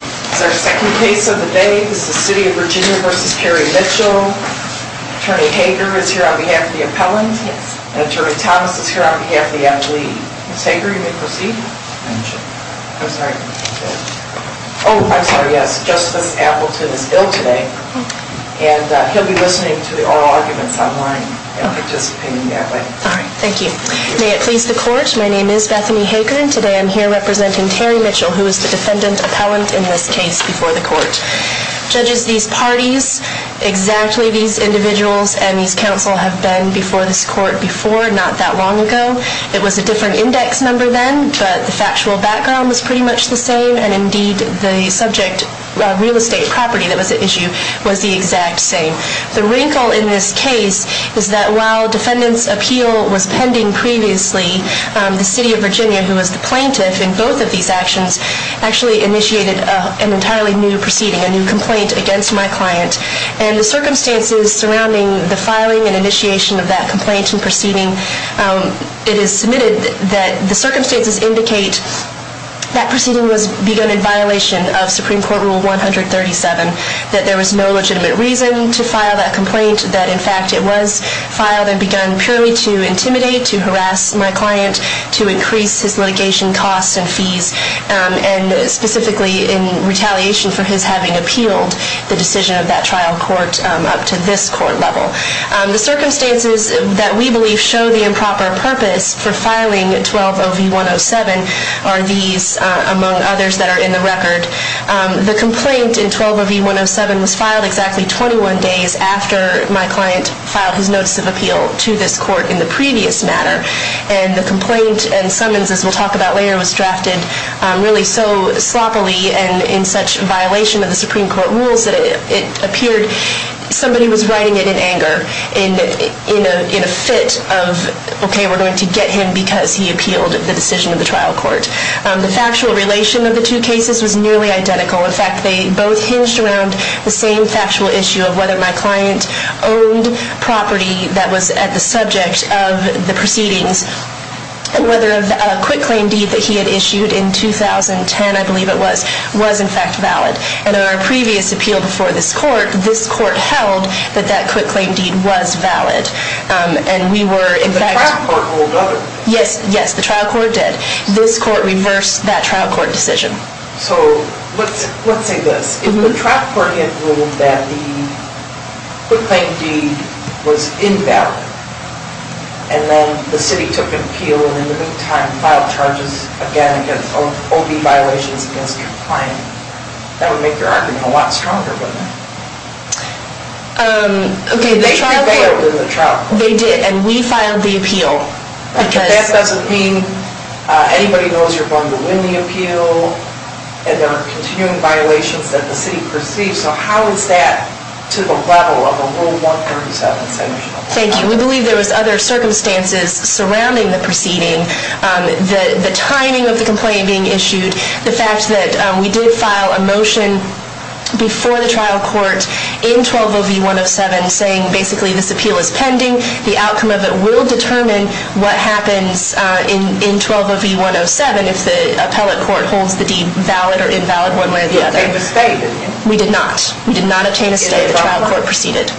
Attorney Hager is here on behalf of the appellant, and Attorney Thomas is here on behalf of the appellee. Ms. Hager, you may proceed. I'm sorry. Oh, I'm sorry, yes. Justice Appleton is ill today, and he'll be listening to the oral arguments online, and participating that way. All right, thank you. May it please the court, my name is Bethany Hager, and today I'm here representing Terry Mitchell, and I'm the judge of the case. I'm going to talk about the differences between the two cases, and the reason why there's a difference in this case before the court. Judges, these parties, exactly these individuals and these counsel have been before this court before, not that long ago. It was a different index number then, but the factual background was pretty much the same, and indeed, the subject real estate property that was the issue was the exact same. The wrinkle in this case is that while defendants' appeal was pending previously, the city of New York did file an entirely new proceeding, a new complaint against my client, and the circumstances surrounding the filing and initiation of that complaint and proceeding, it is submitted that the circumstances indicate that proceeding was begun in violation of Supreme Court Rule 137, that there was no legitimate reason to file that complaint, that in fact it was filed and begun purely to intimidate, to harass my client, to increase his litigation costs and fees, and specifically in retaliation for his having appealed the decision of that trial court up to this court level. The circumstances that we believe show the improper purpose for filing 120V107 are these, among others that are in the record. The complaint in 120V107 was filed exactly 21 days after my client filed his notice of appeal to this court in the previous matter, and the complaint and summons, as we'll talk about later, was drafted really so sloppily and in such violation of the Supreme Court rules that it appeared somebody was writing it in anger, in a fit of, OK, we're going to get him because he appealed the decision of the trial court. The factual relation of the two cases was nearly identical. In fact, they both hinged around the same factual issue of whether my client owned property that was at the subject of the proceedings, whether a quick claim deed that he had issued in 2010, I believe it was, was in fact valid. In our previous appeal before this court, this court held that that quick claim deed was valid. And we were in fact- The trial court ruled otherwise. Yes, yes, the trial court did. This court reversed that trial court decision. So let's say this. The trial court had ruled that the quick claim deed was invalid, and then the city took appeal and in the meantime filed charges again against OB violations against your client. That would make your argument a lot stronger, wouldn't it? OK, the trial court- They failed in the trial court. They did. And we filed the appeal. Because- But that doesn't mean anybody knows you're going to win the appeal, and there are continuing violations that the city perceives. So how is that to the level of a Rule 137 sanction? Thank you. We believe there was other circumstances surrounding the proceeding, the timing of the complaint being issued, the fact that we did file a motion before the trial court in 120V107 saying basically this appeal is pending. The outcome of it will determine what happens in 120V107 if the appellate court holds the other. It was stayed, didn't it? We did not. We did not obtain a stay. The trial court proceeded.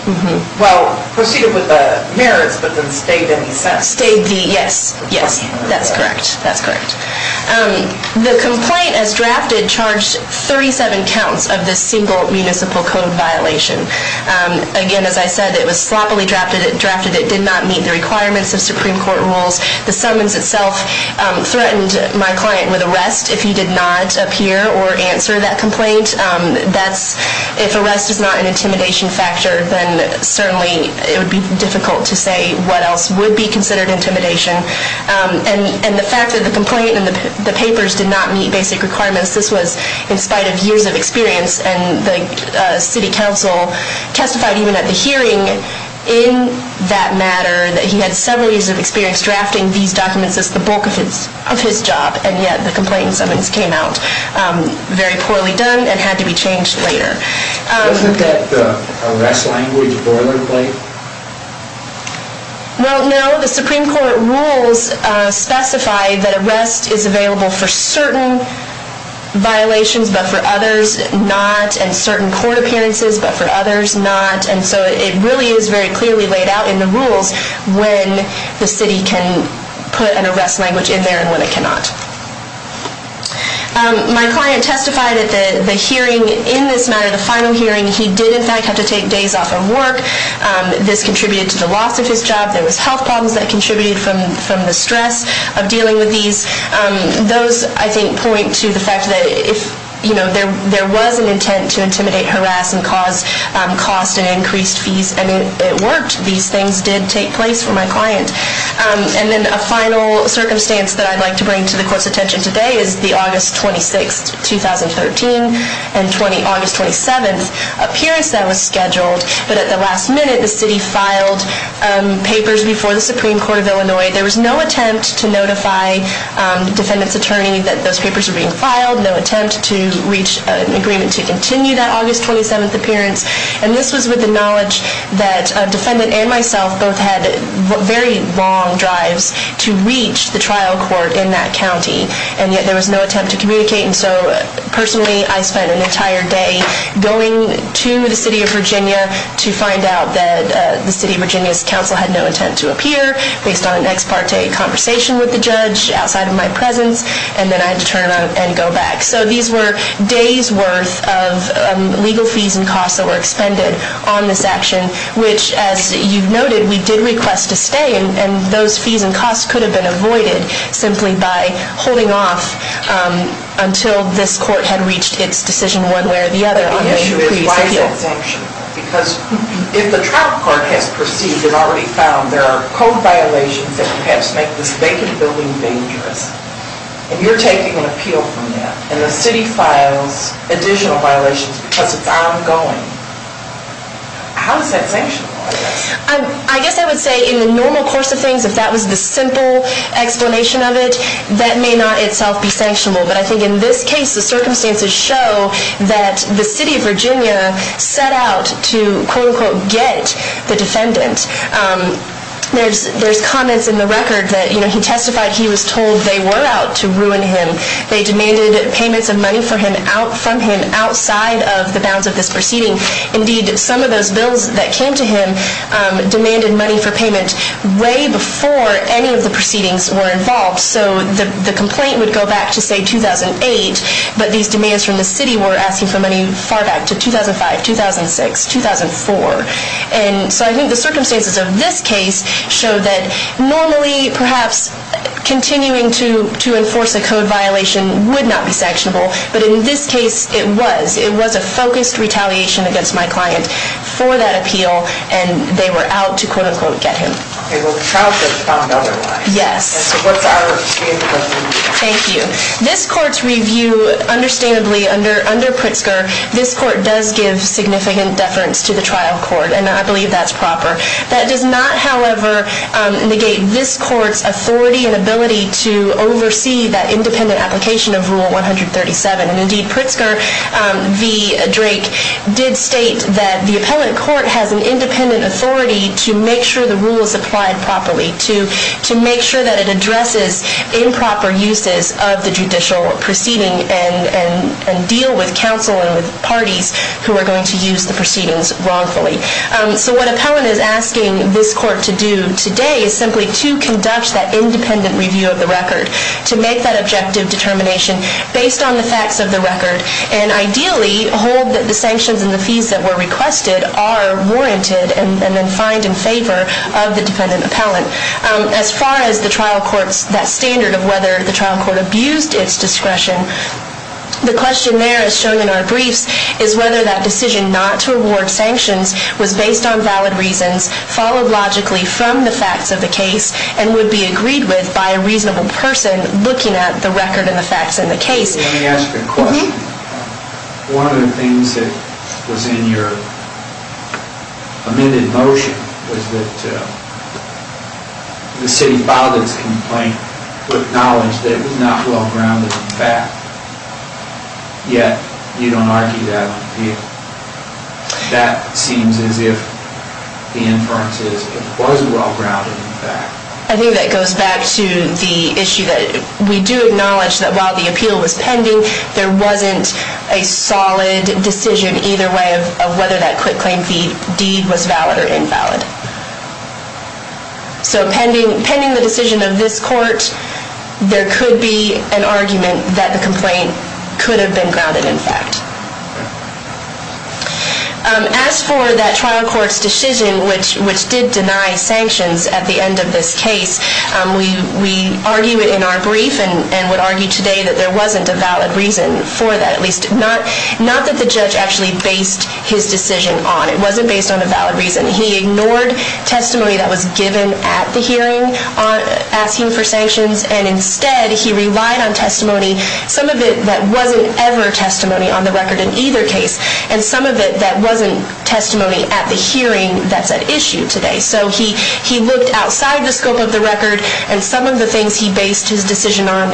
Well, proceeded with the merits, but then stayed in the sentence. Stayed the, yes, yes. That's correct. That's correct. The complaint as drafted charged 37 counts of this single municipal code violation. Again, as I said, it was sloppily drafted. It did not meet the requirements of Supreme Court rules. The summons itself threatened my client with arrest if he did not appear or answer that complaint. If arrest is not an intimidation factor, then certainly it would be difficult to say what else would be considered intimidation. And the fact that the complaint and the papers did not meet basic requirements, this was in spite of years of experience, and the city council testified even at the hearing in that matter that he had several years of experience drafting these documents as the bulk of his job, and yet the complaint and summons came out very poorly done and had to be changed later. Wasn't that the arrest language boilerplate? Well, no. The Supreme Court rules specify that arrest is available for certain violations but for others not, and certain court appearances but for others not. And so it really is very clearly laid out in the rules when the city can put an arrest language in there and when it cannot. My client testified at the hearing in this matter, the final hearing, he did in fact have to take days off from work. This contributed to the loss of his job. There was health problems that contributed from the stress of dealing with these. Those, I think, point to the fact that if there was an intent to intimidate, harass, and cause cost and increased fees, and it worked, these things did take place for my client. And then a final circumstance that I'd like to bring to the Court's attention today is the August 26th, 2013, and August 27th appearance that was scheduled. But at the last minute, the city filed papers before the Supreme Court of Illinois. There was no attempt to notify the defendant's attorney that those papers were being filed, no attempt to reach an agreement to continue that August 27th appearance. And this was with the knowledge that a defendant and myself both had very long drives to reach the trial court in that county, and yet there was no attempt to communicate. And so personally, I spent an entire day going to the city of Virginia to find out that the city of Virginia's counsel had no intent to appear based on an ex parte conversation with the judge outside of my presence, and then I had to turn around and go back. So these were days' worth of legal fees and costs that were expended on this action, which, as you noted, we did request to stay, and those fees and costs could have been avoided simply by holding off until this court had reached its decision one way or the other. But the issue is why is it sanctioned? Because if the trial court has perceived and already found there are code violations that perhaps make this vacant building dangerous, and you're taking an appeal from that, and the city files additional violations because it's ongoing, how is that sanctioned? I guess I would say in the normal course of things, if that was the simple explanation of it, that may not itself be sanctionable. But I think in this case, the circumstances show that the city of Virginia set out to quote, unquote, get the defendant. There's comments in the record that he testified he was told they were out to ruin him. They demanded payments of money from him outside of the bounds of this proceeding. Indeed, some of those bills that came to him demanded money for payment way before any of the proceedings were involved. So the complaint would go back to, say, 2008, but these demands from the city were asking for money far back to 2005, 2006, 2004. And so I think the circumstances of this case show that normally, perhaps, continuing to enforce a code violation would not be sanctionable. But in this case, it was. It was a focused retaliation against my client for that appeal, and they were out to quote, unquote, get him. Okay, well, the trial could have found otherwise. Yes. And so what's our opinion? Thank you. This court's review, understandably, under Pritzker, this court does give significant deference to the trial court, and I believe that's proper. That does not, however, negate this court's authority and ability to oversee that independent application of Rule 137. And indeed, Pritzker v. Drake did state that the appellant court has an independent authority to make sure the rule is applied properly, to make sure that it addresses improper uses of the judicial proceeding and deal with counsel and with parties who are going to use the proceedings wrongfully. So what appellant is asking this court to do today is simply to conduct that independent review of the record, to make that objective determination based on the facts of the record and ideally hold that the sanctions and the fees that were requested are warranted and then find in favor of the dependent appellant. As far as the trial court's standard of whether the trial court abused its discretion, the question there, as shown in our briefs, is whether that decision not to award sanctions was based on valid reasons, followed logically from the facts of the case, and would be agreed with by a reasonable person looking at the record and the facts in the case. Let me ask you a question. One of the things that was in your amended motion was that the city filed its complaint with knowledge that it was not well grounded in fact, yet you don't argue that on appeal. That seems as if the inference is it was well grounded in fact. I think that goes back to the issue that we do acknowledge that while the appeal was pending, there wasn't a solid decision either way of whether that quick claim deed was valid or invalid. So pending the decision of this court, there could be an argument that the complaint could have been grounded in fact. As for that trial court's decision which did deny sanctions at the end of this case, we argue in our brief and would argue today that there wasn't a valid reason for that, at least not that the judge actually based his decision on. It wasn't based on a valid reason. He ignored testimony that was given at the hearing asking for sanctions and instead he relied on testimony, some of it that wasn't ever testimony on the record in either case, and some of it that wasn't testimony at the hearing that's at issue today. So he looked outside the scope of the record and some of the things he based his decision on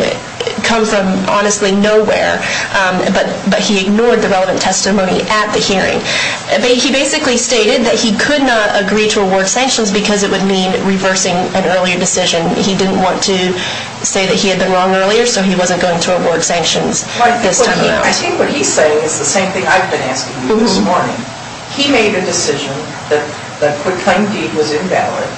come from honestly nowhere, but he ignored the relevant testimony at the hearing. He basically stated that he could not agree to award sanctions because it would mean reversing an earlier decision. He didn't want to say that he had been wrong earlier so he wasn't going to award sanctions. I think what he's saying is the same thing I've been asking you this morning. He made a decision that the quick claim deed was invalid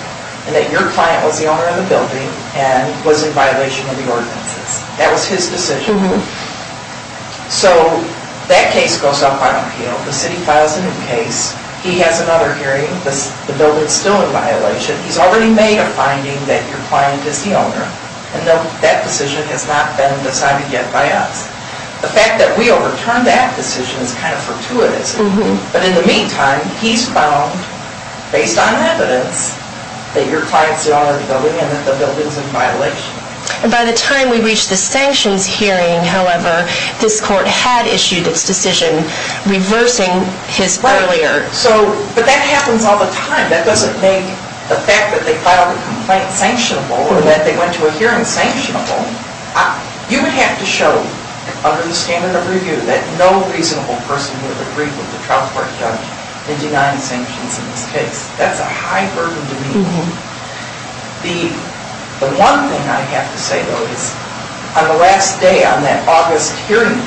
and that your client was the owner of the building and was in violation of the ordinances. That was his decision. So that case goes up on appeal. The city files a new case. He has another hearing. The building's still in violation. He's already made a finding that your client is the owner. And that decision has not been decided yet by us. The fact that we overturned that decision is kind of fortuitous. But in the meantime, he's found, based on evidence, that your client's the owner of the building and that the building's in violation. And by the time we reached the sanctions hearing, however, this court had issued its decision reversing his earlier. Right. But that happens all the time. That doesn't make the fact that they filed a complaint sanctionable or that they went to a hearing sanctionable. You would have to show, under the standard of review, that no reasonable person would have agreed with the trial court judge in denying sanctions in this case. That's a high burden to me. The one thing I have to say, though, is on the last day, on that August hearing,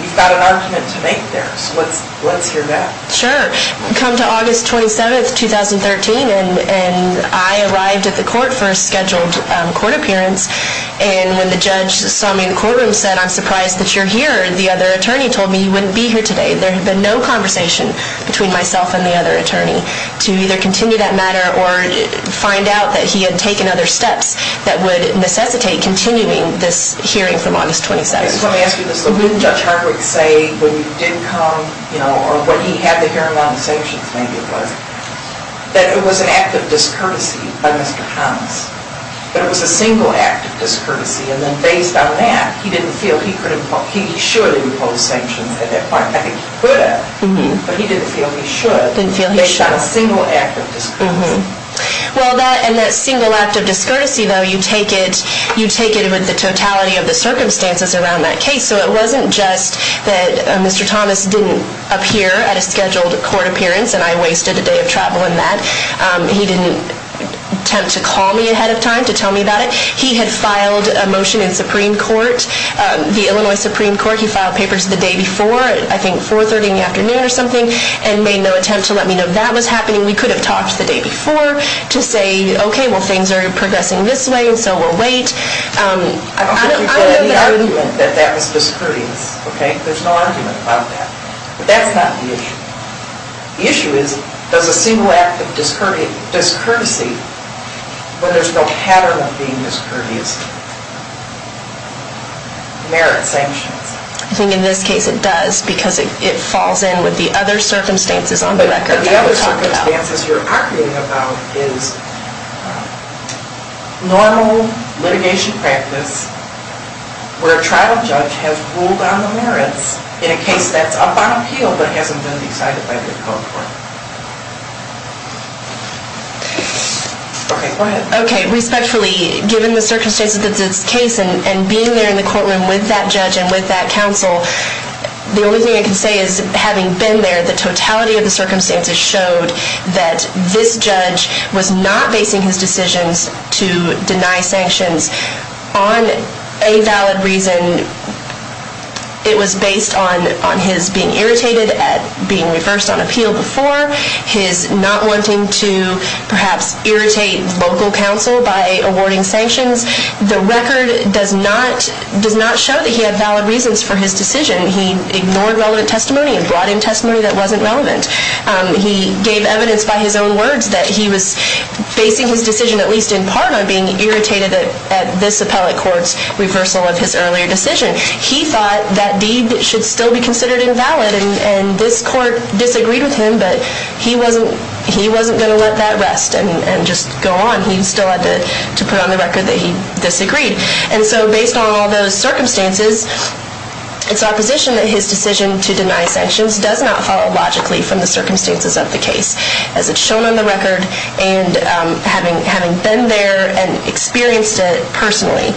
you've got an argument to make there. So let's hear that. Sure. Come to August 27, 2013, and I arrived at the court for a scheduled court appearance. And when the judge saw me in the courtroom and said, I'm surprised that you're here, the other attorney told me you wouldn't be here today. There had been no conversation between myself and the other attorney to either continue that matter or find out that he had taken other steps that would necessitate continuing this hearing from August 27. I just want to ask you this. Wouldn't Judge Hardwick say when you didn't come, or when he had the hearing on the sanctions maybe it was, that it was an act of discourtesy by Mr. Thomas, that it was a single act of discourtesy, and then based on that he didn't feel he could impose, he surely imposed sanctions at that point. I think he could have, but he didn't feel he should. Based on a single act of discourtesy. Well, and that single act of discourtesy, though, you take it with the totality of the circumstances around that case. So it wasn't just that Mr. Thomas didn't appear at a scheduled court appearance and I wasted a day of travel in that. He didn't attempt to call me ahead of time to tell me about it. He had filed a motion in Supreme Court, the Illinois Supreme Court. He filed papers the day before, I think 4 o'clock in the afternoon or something, and made no attempt to let me know that was happening. We could have talked the day before to say, okay, well, things are progressing this way, so we'll wait. I don't think you get any argument that that was discourteous. There's no argument about that. But that's not the issue. The issue is, does a single act of discourtesy, when there's no pattern of being discourteous, merit sanctions? I think in this case it does, because it falls in with the other circumstances on the record that we talked about. The other circumstances you're arguing about is normal litigation practice where a trial judge has ruled on the merits in a case that's up on appeal but hasn't been decided by the court. Okay, go ahead. Okay, respectfully, given the circumstances of this case and being there in the courtroom with that judge and with that counsel, the only thing I can say is, having been there, the totality of the circumstances showed that this judge was not basing his decisions to deny sanctions on a valid reason. It was based on his being irritated at being reversed on appeal before, his not wanting to perhaps irritate local counsel by awarding sanctions. The record does not show that he had valid reasons for his decision. He ignored relevant testimony and brought in testimony that wasn't relevant. He gave evidence by his own words that he was basing his decision, at least in part, on being irritated at this appellate court's reversal of his earlier decision. He thought that deed should still be considered invalid, and this court disagreed with him, but he wasn't going to let that rest and just go on. He still had to put on the record that he disagreed. And so based on all those circumstances, it's our position that his decision to deny sanctions does not follow logically from the circumstances of the case, as it's shown on the record, and having been there and experienced it personally,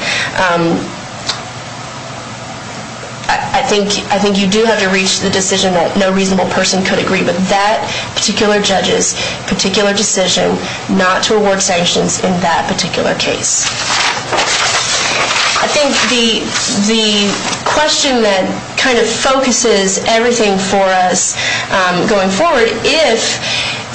I think you do have to reach the decision that no reasonable person could agree with that particular judge's particular decision not to award sanctions in that particular case. I think the question that kind of focuses everything for us going forward, if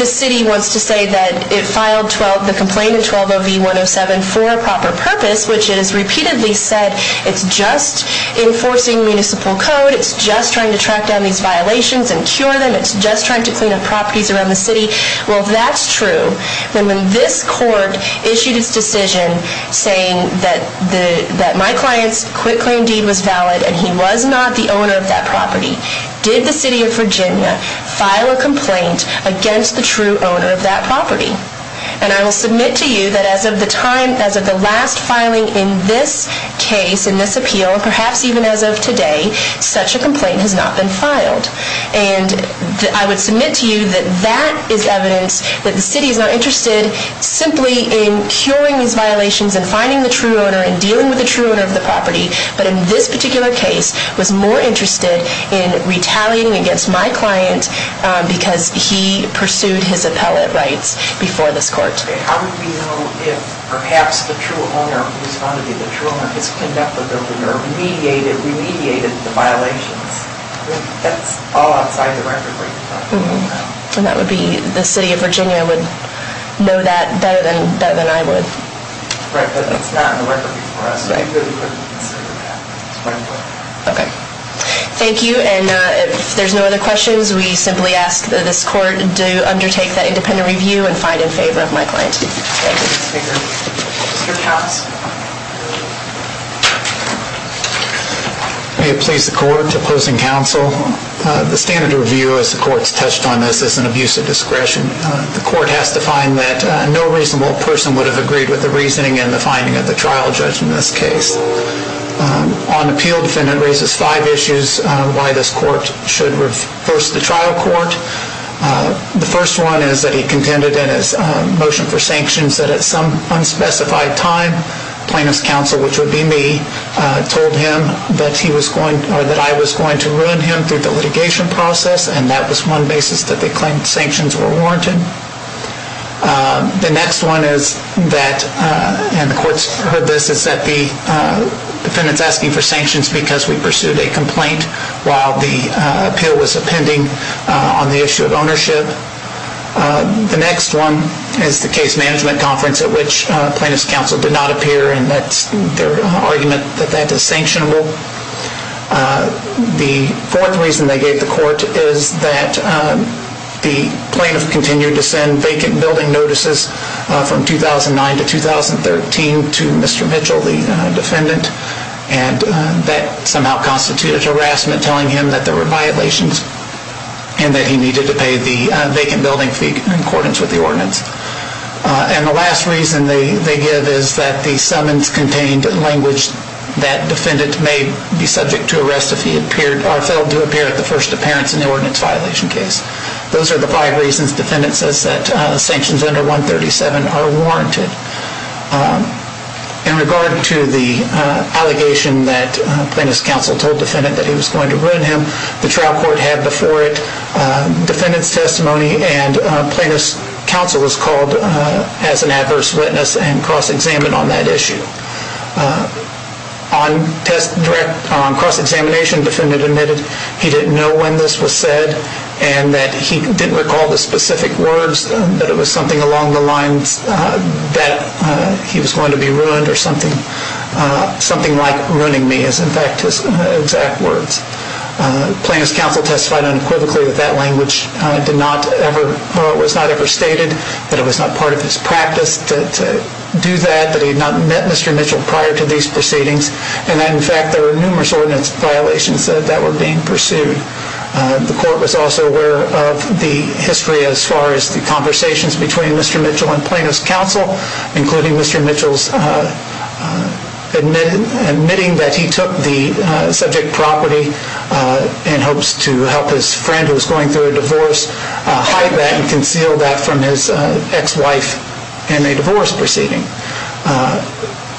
the city wants to say that it filed the complaint in 120V107 for a proper purpose, which it has repeatedly said it's just enforcing municipal code, it's just trying to track down these violations and cure them, it's just trying to clean up properties around the city, well, that's true. But when this court issued its decision saying that my client's quitclaim deed was valid and he was not the owner of that property, did the city of Virginia file a complaint against the true owner of that property? And I will submit to you that as of the last filing in this case, in this appeal, perhaps even as of today, such a complaint has not been filed. And I would submit to you that that is evidence that the city is not interested simply in curing these violations and finding the true owner and dealing with the true owner of the property, but in this particular case was more interested in retaliating against my client because he pursued his appellate rights before this court. Okay, how would we know if perhaps the true owner, who's found to be the true owner, has condemned the building or remediated the violations? That's all outside the record where you're talking about. And that would be, the city of Virginia would know that better than I would. Correct, but it's not in the record for us, so we really couldn't consider that. Okay. Thank you, and if there's no other questions, we simply ask that this court do undertake that independent review and find in favor of my client. Thank you, Mr. Speaker. Mr. Cox. May it please the court opposing counsel, the standard review as the court's touched on this is an abuse of discretion. The court has to find that no reasonable person would have agreed with the reasoning and the finding of the trial judge in this case. On appeal, defendant raises five issues why this court should reverse the trial court. The first one is that he contended in his motion for sanctions that at some unspecified time, plaintiff's counsel, which would be me, told him that he was going, or that I was going to ruin him through the litigation process, and that was one basis that they claimed sanctions were warranted. The next one is that, and the court's heard this, is that the defendant's asking for sanctions because we pursued a complaint while the appeal was appending on the issue of ownership. The next one is the case management conference at which plaintiff's counsel did not appear and that's their argument that that is sanctionable. The fourth reason they gave the court is that the plaintiff continued to send vacant building notices from 2009 to 2013 to Mr. Mitchell, the defendant, and that somehow constituted harassment, telling him that there were violations and that he needed to pay the vacant building fee in accordance with the ordinance. And the last reason they give is that the summons contained language that defendant may be subject to arrest if he failed to appear at the first appearance in the ordinance violation case. Those are the five reasons defendant says that sanctions under 137 are warranted. In regard to the allegation that plaintiff's counsel told defendant that he was going to ruin him, the trial court had before it defendant's testimony and plaintiff's counsel was called as an adverse witness and cross-examined on that issue. On cross-examination, defendant admitted he didn't know when this was said and that he didn't recall the specific words, that it was something along the lines that he was going to be ruined or something like ruining me is in fact his exact words. Plaintiff's counsel testified unequivocally that that language was not ever stated, that it was not part of his practice to do that, that he had not met Mr. Mitchell prior to these proceedings and that in fact there were numerous ordinance violations that were being pursued. The court was also aware of the history as far as the conversations between Mr. Mitchell and plaintiff's counsel, including Mr. Mitchell's admitting that he took the subject property in hopes to help his friend who was going through a divorce hide that and conceal that from his ex-wife in a divorce proceeding.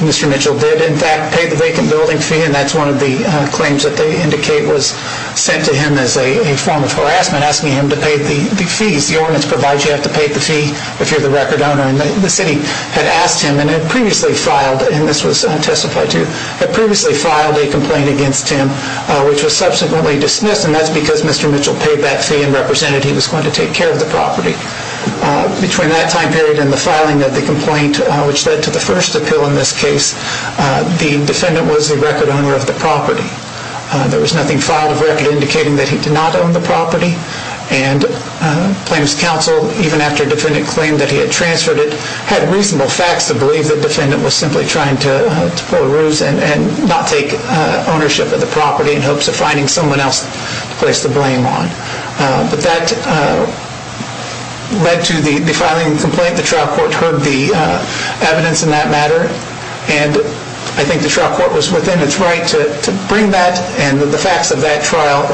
Mr. Mitchell did in fact pay the vacant building fee and that's one of the claims that they indicate was sent to him as a form of harassment, asking him to pay the fees. The ordinance provides you have to pay the fee if you're the record owner and the city had asked him and had previously filed, and this was testified to, had previously filed a complaint against him which was subsequently dismissed and that's because Mr. Mitchell paid that fee and represented he was going to take care of the property. Between that time period and the filing of the complaint, which led to the first appeal in this case, the defendant was the record owner of the property. There was nothing filed of record indicating that he did not own the property and plaintiff's counsel, even after the defendant claimed that he had transferred it, had reasonable facts to believe the defendant was simply trying to pull a ruse and not take ownership of the property in hopes of finding someone else to place the blame on. But that led to the filing of the complaint. The trial court heard the evidence in that matter and I think the trial court was within its right to bring that and the facts of that trial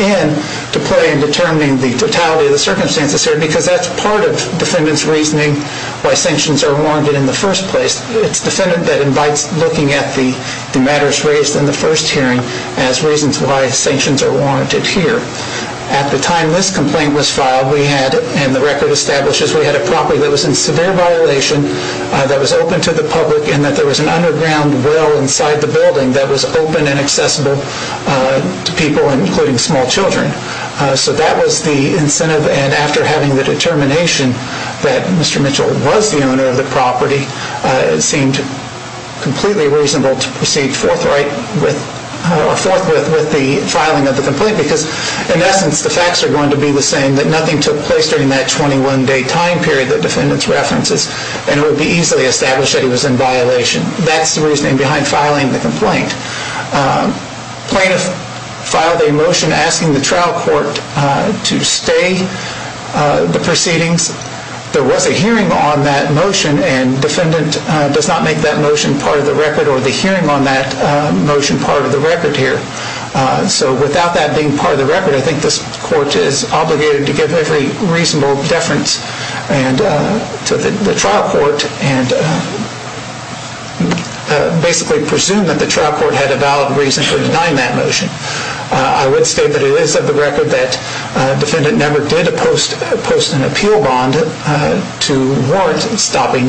in to play in determining the totality of the circumstances here because that's part of defendant's reasoning why sanctions are warranted in the first place. It's the defendant that invites looking at the matters raised in the first hearing as reasons why sanctions are warranted here. At the time this complaint was filed, we had, and the record establishes, we had a property that was in severe violation that was open to the public and that there was an underground well inside the building that was open and accessible to people, including small children. So that was the incentive and after having the determination that Mr. Mitchell was the owner of the property, it seemed completely reasonable to proceed forthwith with the filing of the complaint because in essence the facts are going to be the same, that nothing took place during that 21 day time period that defendants references and it would be easily established that he was in violation. That's the reasoning behind filing the complaint. Plaintiff filed a motion asking the trial court to stay the proceedings. There was a hearing on that motion and defendant does not make that motion part of the record or the hearing on that motion part of the record here. So without that being part of the record, I think this court is obligated to give every reasonable deference to the trial court and basically presume that the trial court had a valid reason for denying that motion. I would state that it is of the record that defendant never did post an appeal bond to warrant stopping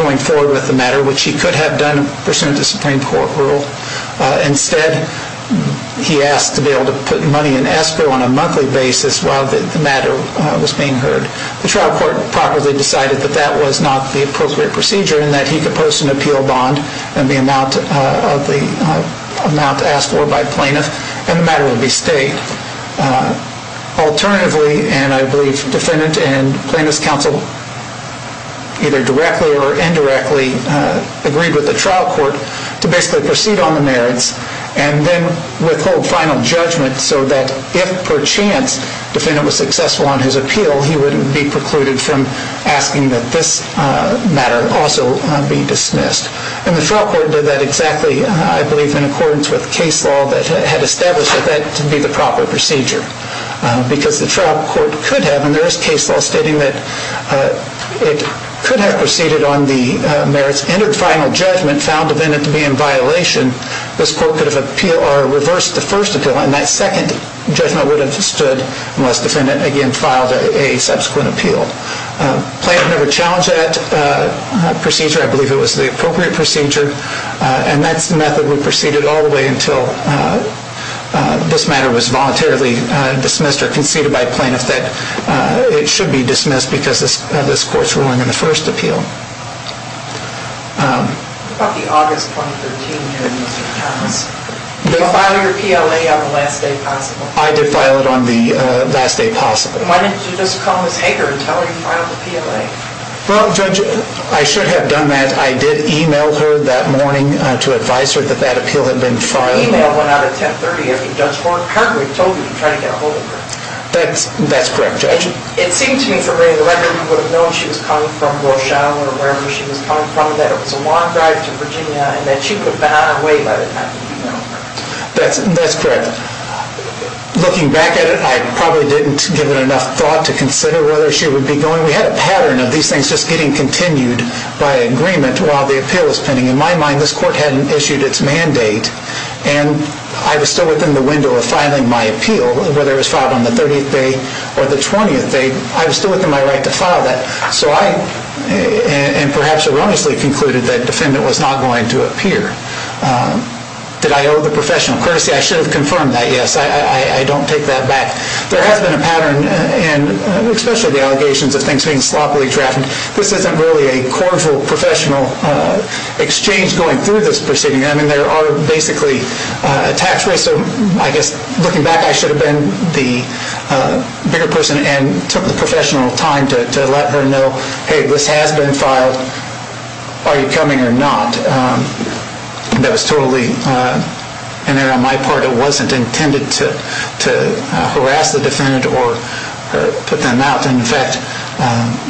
going forward with the matter, which he could have done pursuant to plain court rule. Instead, he asked to be able to put money in escrow on a monthly basis while the matter was being heard. The trial court properly decided that that was not the appropriate procedure in that he could post an appeal bond and the amount asked for by plaintiff and the matter would be stayed. Alternatively, and I believe defendant and plaintiff's counsel either directly or indirectly agreed with the trial court to basically proceed on the merits and then withhold final judgment so that if per chance defendant was successful on his appeal, he wouldn't be precluded from asking that this matter also be dismissed. And the trial court did that exactly, I believe, in accordance with case law that had established that that to be the proper procedure because the trial court could have, and there is case law stating that it could have proceeded on the merits, entered final judgment, found defendant to be in violation. This court could have appealed or reversed the first appeal and that second judgment would have stood unless defendant again filed a subsequent appeal. Plaintiff never challenged that procedure. I believe it was the appropriate procedure. And that method would proceed all the way until this matter was voluntarily dismissed or conceded by plaintiff that it should be dismissed because of this court's ruling in the first appeal. What about the August 2013 hearing, Mr. Thomas? Did you file your PLA on the last day possible? I did file it on the last day possible. Why didn't you just call Ms. Hager and tell her you filed the PLA? Well, Judge, I should have done that. I did email her that morning to advise her that that appeal had been filed. The email went out at 10.30 after Judge Hager had told you to try to get a hold of her. That's correct, Judge. It seemed to me from reading the record you would have known she was coming from Warshaw or wherever she was coming from, that it was a long drive to Virginia and that she would have been on her way by the time you emailed her. That's correct. Looking back at it, I probably didn't give it enough thought to consider whether she would be going. We had a pattern of these things just getting continued by agreement while the appeal was pending. In my mind, this court hadn't issued its mandate, and I was still within the window of filing my appeal, whether it was filed on the 30th day or the 20th day. I was still within my right to file that. So I perhaps erroneously concluded that the defendant was not going to appear. Did I owe the professional courtesy? I should have confirmed that, yes. I don't take that back. There has been a pattern, especially the allegations of things being sloppily drafted. This isn't really a cordial professional exchange going through this proceeding. There are basically attacks. Looking back, I should have been the bigger person and took the professional time to let her know, hey, this has been filed. Are you coming or not? That was totally in error on my part. It wasn't intended to harass the defendant or put them out. In fact,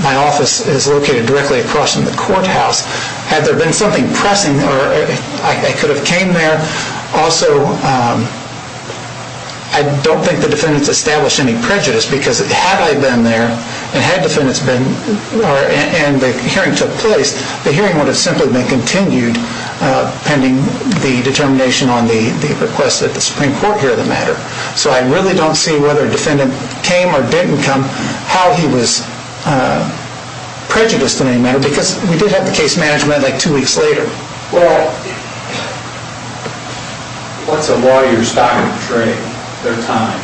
my office is located directly across from the courthouse. Had there been something pressing, I could have came there. Also, I don't think the defendants established any prejudice because had I been there and the hearing took place, the hearing would have simply been continued pending the determination on the request that the Supreme Court hear the matter. So I really don't see whether a defendant came or didn't come, how he was prejudiced in any matter because we did have the case management like two weeks later. Well, what's a lawyer's stock of trade? Their time.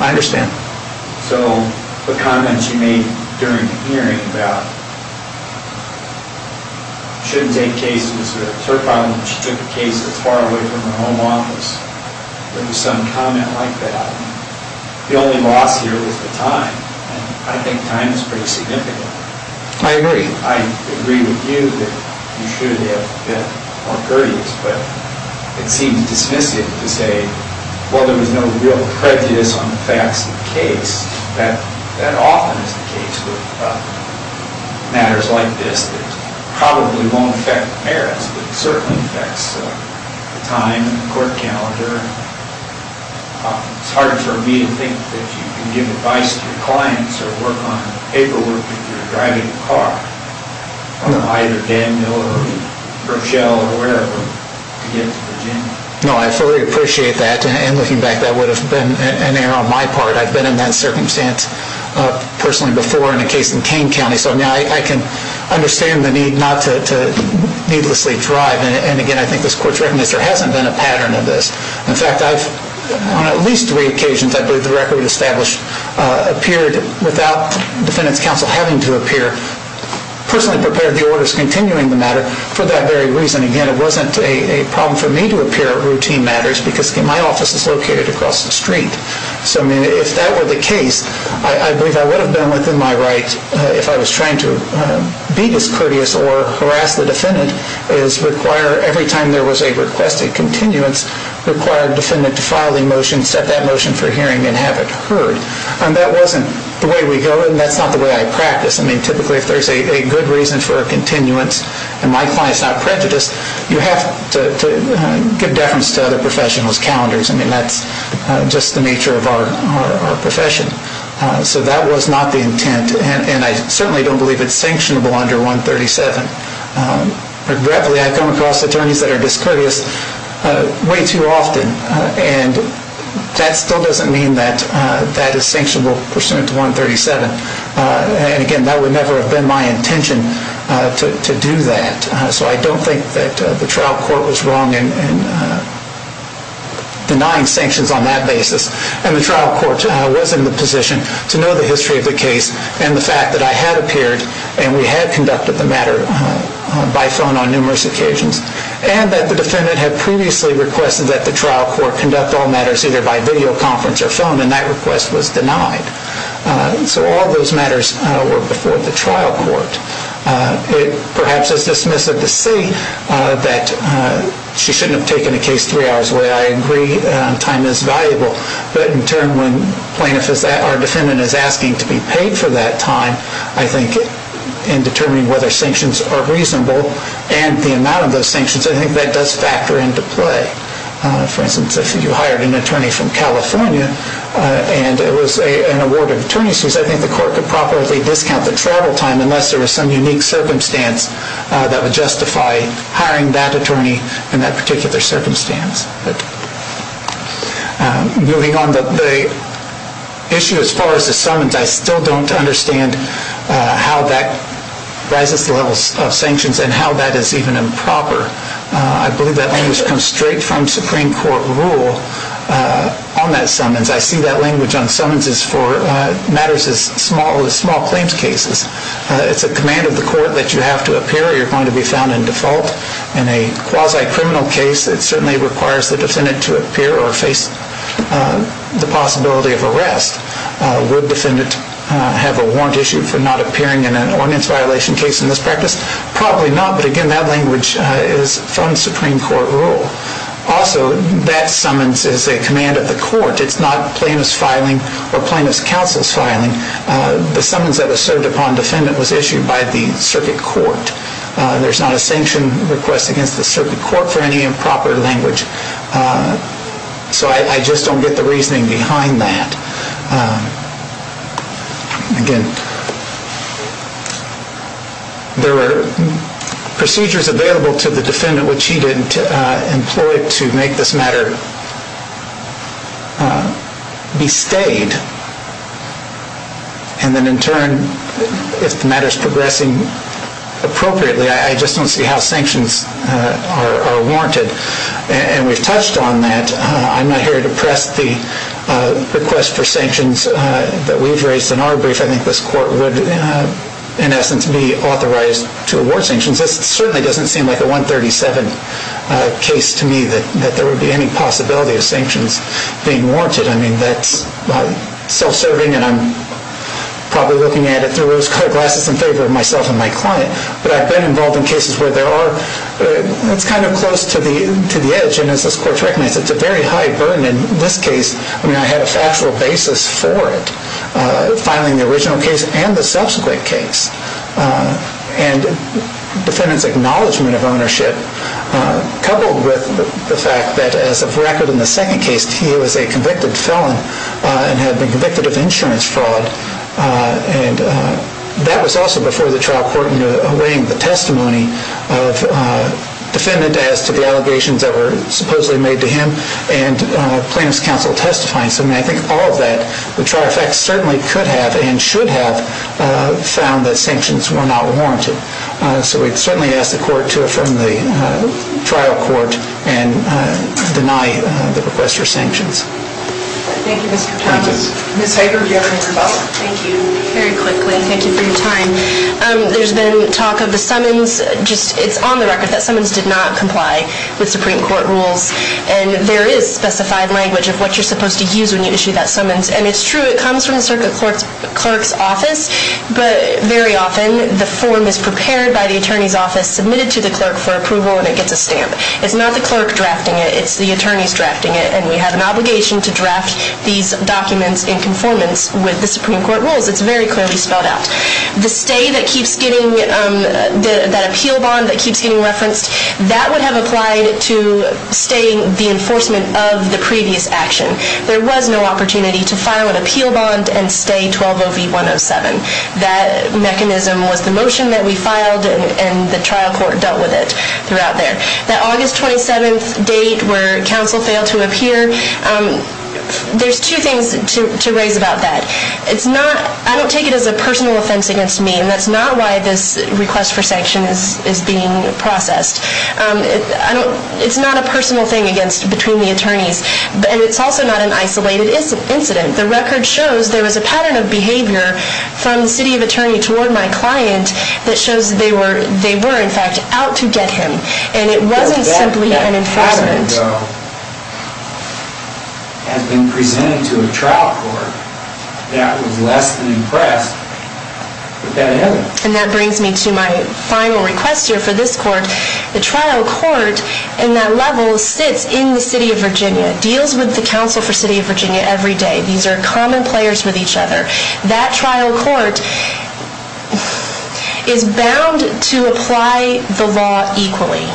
I understand. So the comments you made during the hearing about shouldn't take cases, her problem, she took the case that's far away from her home office. There was some comment like that. The only loss here was the time. I think time is pretty significant. I agree. I agree with you that you should have been more courteous, but it seems dismissive to say, well, there was no real prejudice on the facts of the case. That often is the case with matters like this. It probably won't affect the merits, but it certainly affects the time and the court calendar. It's hard for me to think that you can give advice to your clients or work on paperwork if you're driving a car, either Danville or Rochelle or wherever, to get to Virginia. No, I fully appreciate that. And looking back, that would have been an error on my part. I've been in that circumstance personally before in a case in Kane County, so I can understand the need not to needlessly drive. And, again, I think this court's recognized there hasn't been a pattern of this. In fact, on at least three occasions, I believe the record established appeared without defendant's counsel having to appear, personally prepared the orders continuing the matter for that very reason. Again, it wasn't a problem for me to appear at routine matters because my office is located across the street. So, I mean, if that were the case, I believe I would have been within my right, if I was trying to be discourteous or harass the defendant, is require every time there was a requested continuance, required defendant to file the motion, set that motion for hearing, and have it heard. And that wasn't the way we go, and that's not the way I practice. I mean, typically, if there's a good reason for a continuance and my client's not prejudiced, you have to give deference to other professionals' calendars. I mean, that's just the nature of our profession. So that was not the intent, and I certainly don't believe it's sanctionable under 137. Regretfully, I've come across attorneys that are discourteous, way too often, and that still doesn't mean that that is sanctionable pursuant to 137. And again, that would never have been my intention to do that. So I don't think that the trial court was wrong in denying sanctions on that basis. And the trial court was in the position to know the history of the case and the fact that I had appeared and we had conducted the matter by phone on numerous occasions and that the defendant had previously requested that the trial court conduct all matters either by videoconference or phone, and that request was denied. So all those matters were before the trial court. It perhaps is dismissive to say that she shouldn't have taken a case three hours away. I agree, time is valuable. But in turn, when our defendant is asking to be paid for that time, I think in determining whether sanctions are reasonable and the amount of those sanctions, I think that does factor into play. For instance, if you hired an attorney from California and it was an award of attorney's fees, I think the court could properly discount the travel time unless there was some unique circumstance that would justify hiring that attorney in that particular circumstance. Moving on, the issue as far as the summons, I still don't understand how that rises to the level of sanctions and how that is even improper. I believe that language comes straight from Supreme Court rule on that summons. I see that language on summonses for matters as small as small claims cases. It's a command of the court that you have to appear or you're going to be found in default. In a quasi-criminal case, it certainly requires the defendant to appear or face the possibility of arrest. Would a defendant have a warrant issue for not appearing in an ordinance violation case in this practice? Probably not, but again, that language is from Supreme Court rule. Also, that summons is a command of the court. It's not plaintiff's filing or plaintiff's counsel's filing. The summons that are served upon defendant was issued by the circuit court. There's not a sanction request against the circuit court for any improper language. So I just don't get the reasoning behind that. Again, there were procedures available to the defendant which he didn't employ to make this matter be stayed. And then in turn, if the matter is progressing appropriately, I just don't see how sanctions are warranted. And we've touched on that. I'm not here to press the request for sanctions that we've raised in our brief. I think this court would, in essence, be authorized to award sanctions. This certainly doesn't seem like a 137 case to me that there would be any possibility of sanctions being warranted. I mean, that's self-serving, and I'm probably looking at it through rose-colored glasses in favor of myself and my client. But I've been involved in cases where there are. It's kind of close to the edge, and as this court recognizes, it's a very high burden. In this case, I mean, I had a factual basis for it, filing the original case and the subsequent case. And the defendant's acknowledgment of ownership, coupled with the fact that as of record in the second case, he was a convicted felon and had been convicted of insurance fraud. And that was also before the trial court in weighing the testimony of the defendant as to the allegations that were supposedly made to him and plaintiff's counsel testifying. So, I mean, I think all of that, the trial effects certainly could have and should have found that sanctions were not warranted. So we'd certainly ask the court to affirm the trial court and deny the request for sanctions. Thank you, Mr. Thomas. Thank you. Ms. Hager, do you have anything to add? Thank you. Very quickly, thank you for your time. There's been talk of the summons. It's on the record that summons did not comply with Supreme Court rules. And there is specified language of what you're supposed to use when you issue that summons. And it's true, it comes from the circuit clerk's office. But very often, the form is prepared by the attorney's office, submitted to the clerk for approval, and it gets a stamp. It's not the clerk drafting it. It's the attorneys drafting it. And we have an obligation to draft these documents in conformance with the Supreme Court rules. It's very clearly spelled out. The stay that keeps getting, that appeal bond that keeps getting referenced, that would have applied to staying the enforcement of the previous action. There was no opportunity to file an appeal bond and stay 120V107. That mechanism was the motion that we filed, and the trial court dealt with it throughout there. That August 27th date where counsel failed to appear, there's two things to raise about that. I don't take it as a personal offense against me, and that's not why this request for sanction is being processed. It's not a personal thing between the attorneys, and it's also not an isolated incident. The record shows there was a pattern of behavior from the city of attorney toward my client that shows they were, in fact, out to get him. And it wasn't simply an enforcement. That precedent, though, has been presented to a trial court that was less than impressed with that evidence. And that brings me to my final request here for this court. The trial court in that level sits in the city of Virginia, deals with the council for city of Virginia every day. These are common players with each other. That trial court is bound to apply the law equally.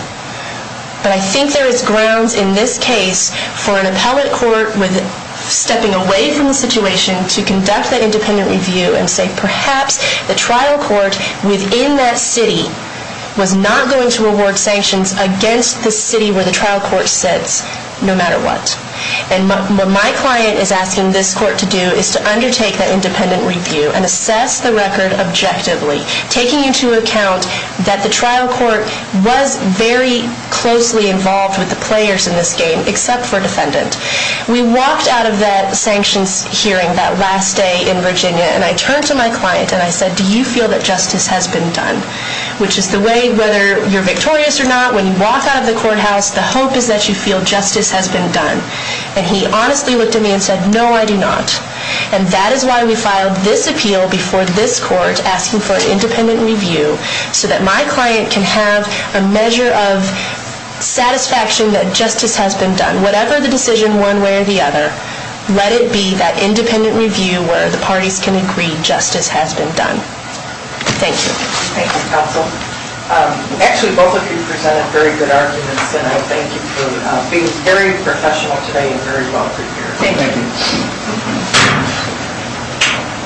But I think there is grounds in this case for an appellate court with stepping away from the situation to conduct that independent review and say perhaps the trial court within that city was not going to award sanctions against the city where the trial court sits no matter what. And what my client is asking this court to do is to undertake that independent review and assess the record objectively, taking into account that the trial court was very closely involved with the players in this game except for a defendant. We walked out of that sanctions hearing that last day in Virginia, and I turned to my client and I said, do you feel that justice has been done? Which is the way, whether you're victorious or not, when you walk out of the courthouse, the hope is that you feel justice has been done. And he honestly looked at me and said, no, I do not. And that is why we filed this appeal before this court asking for an independent review so that my client can have a measure of satisfaction that justice has been done. Whatever the decision one way or the other, let it be that independent review where the parties can agree justice has been done. Thank you. Thank you, counsel. Actually, both of you presented very good arguments, and I thank you for being very professional today and very well prepared. Thank you.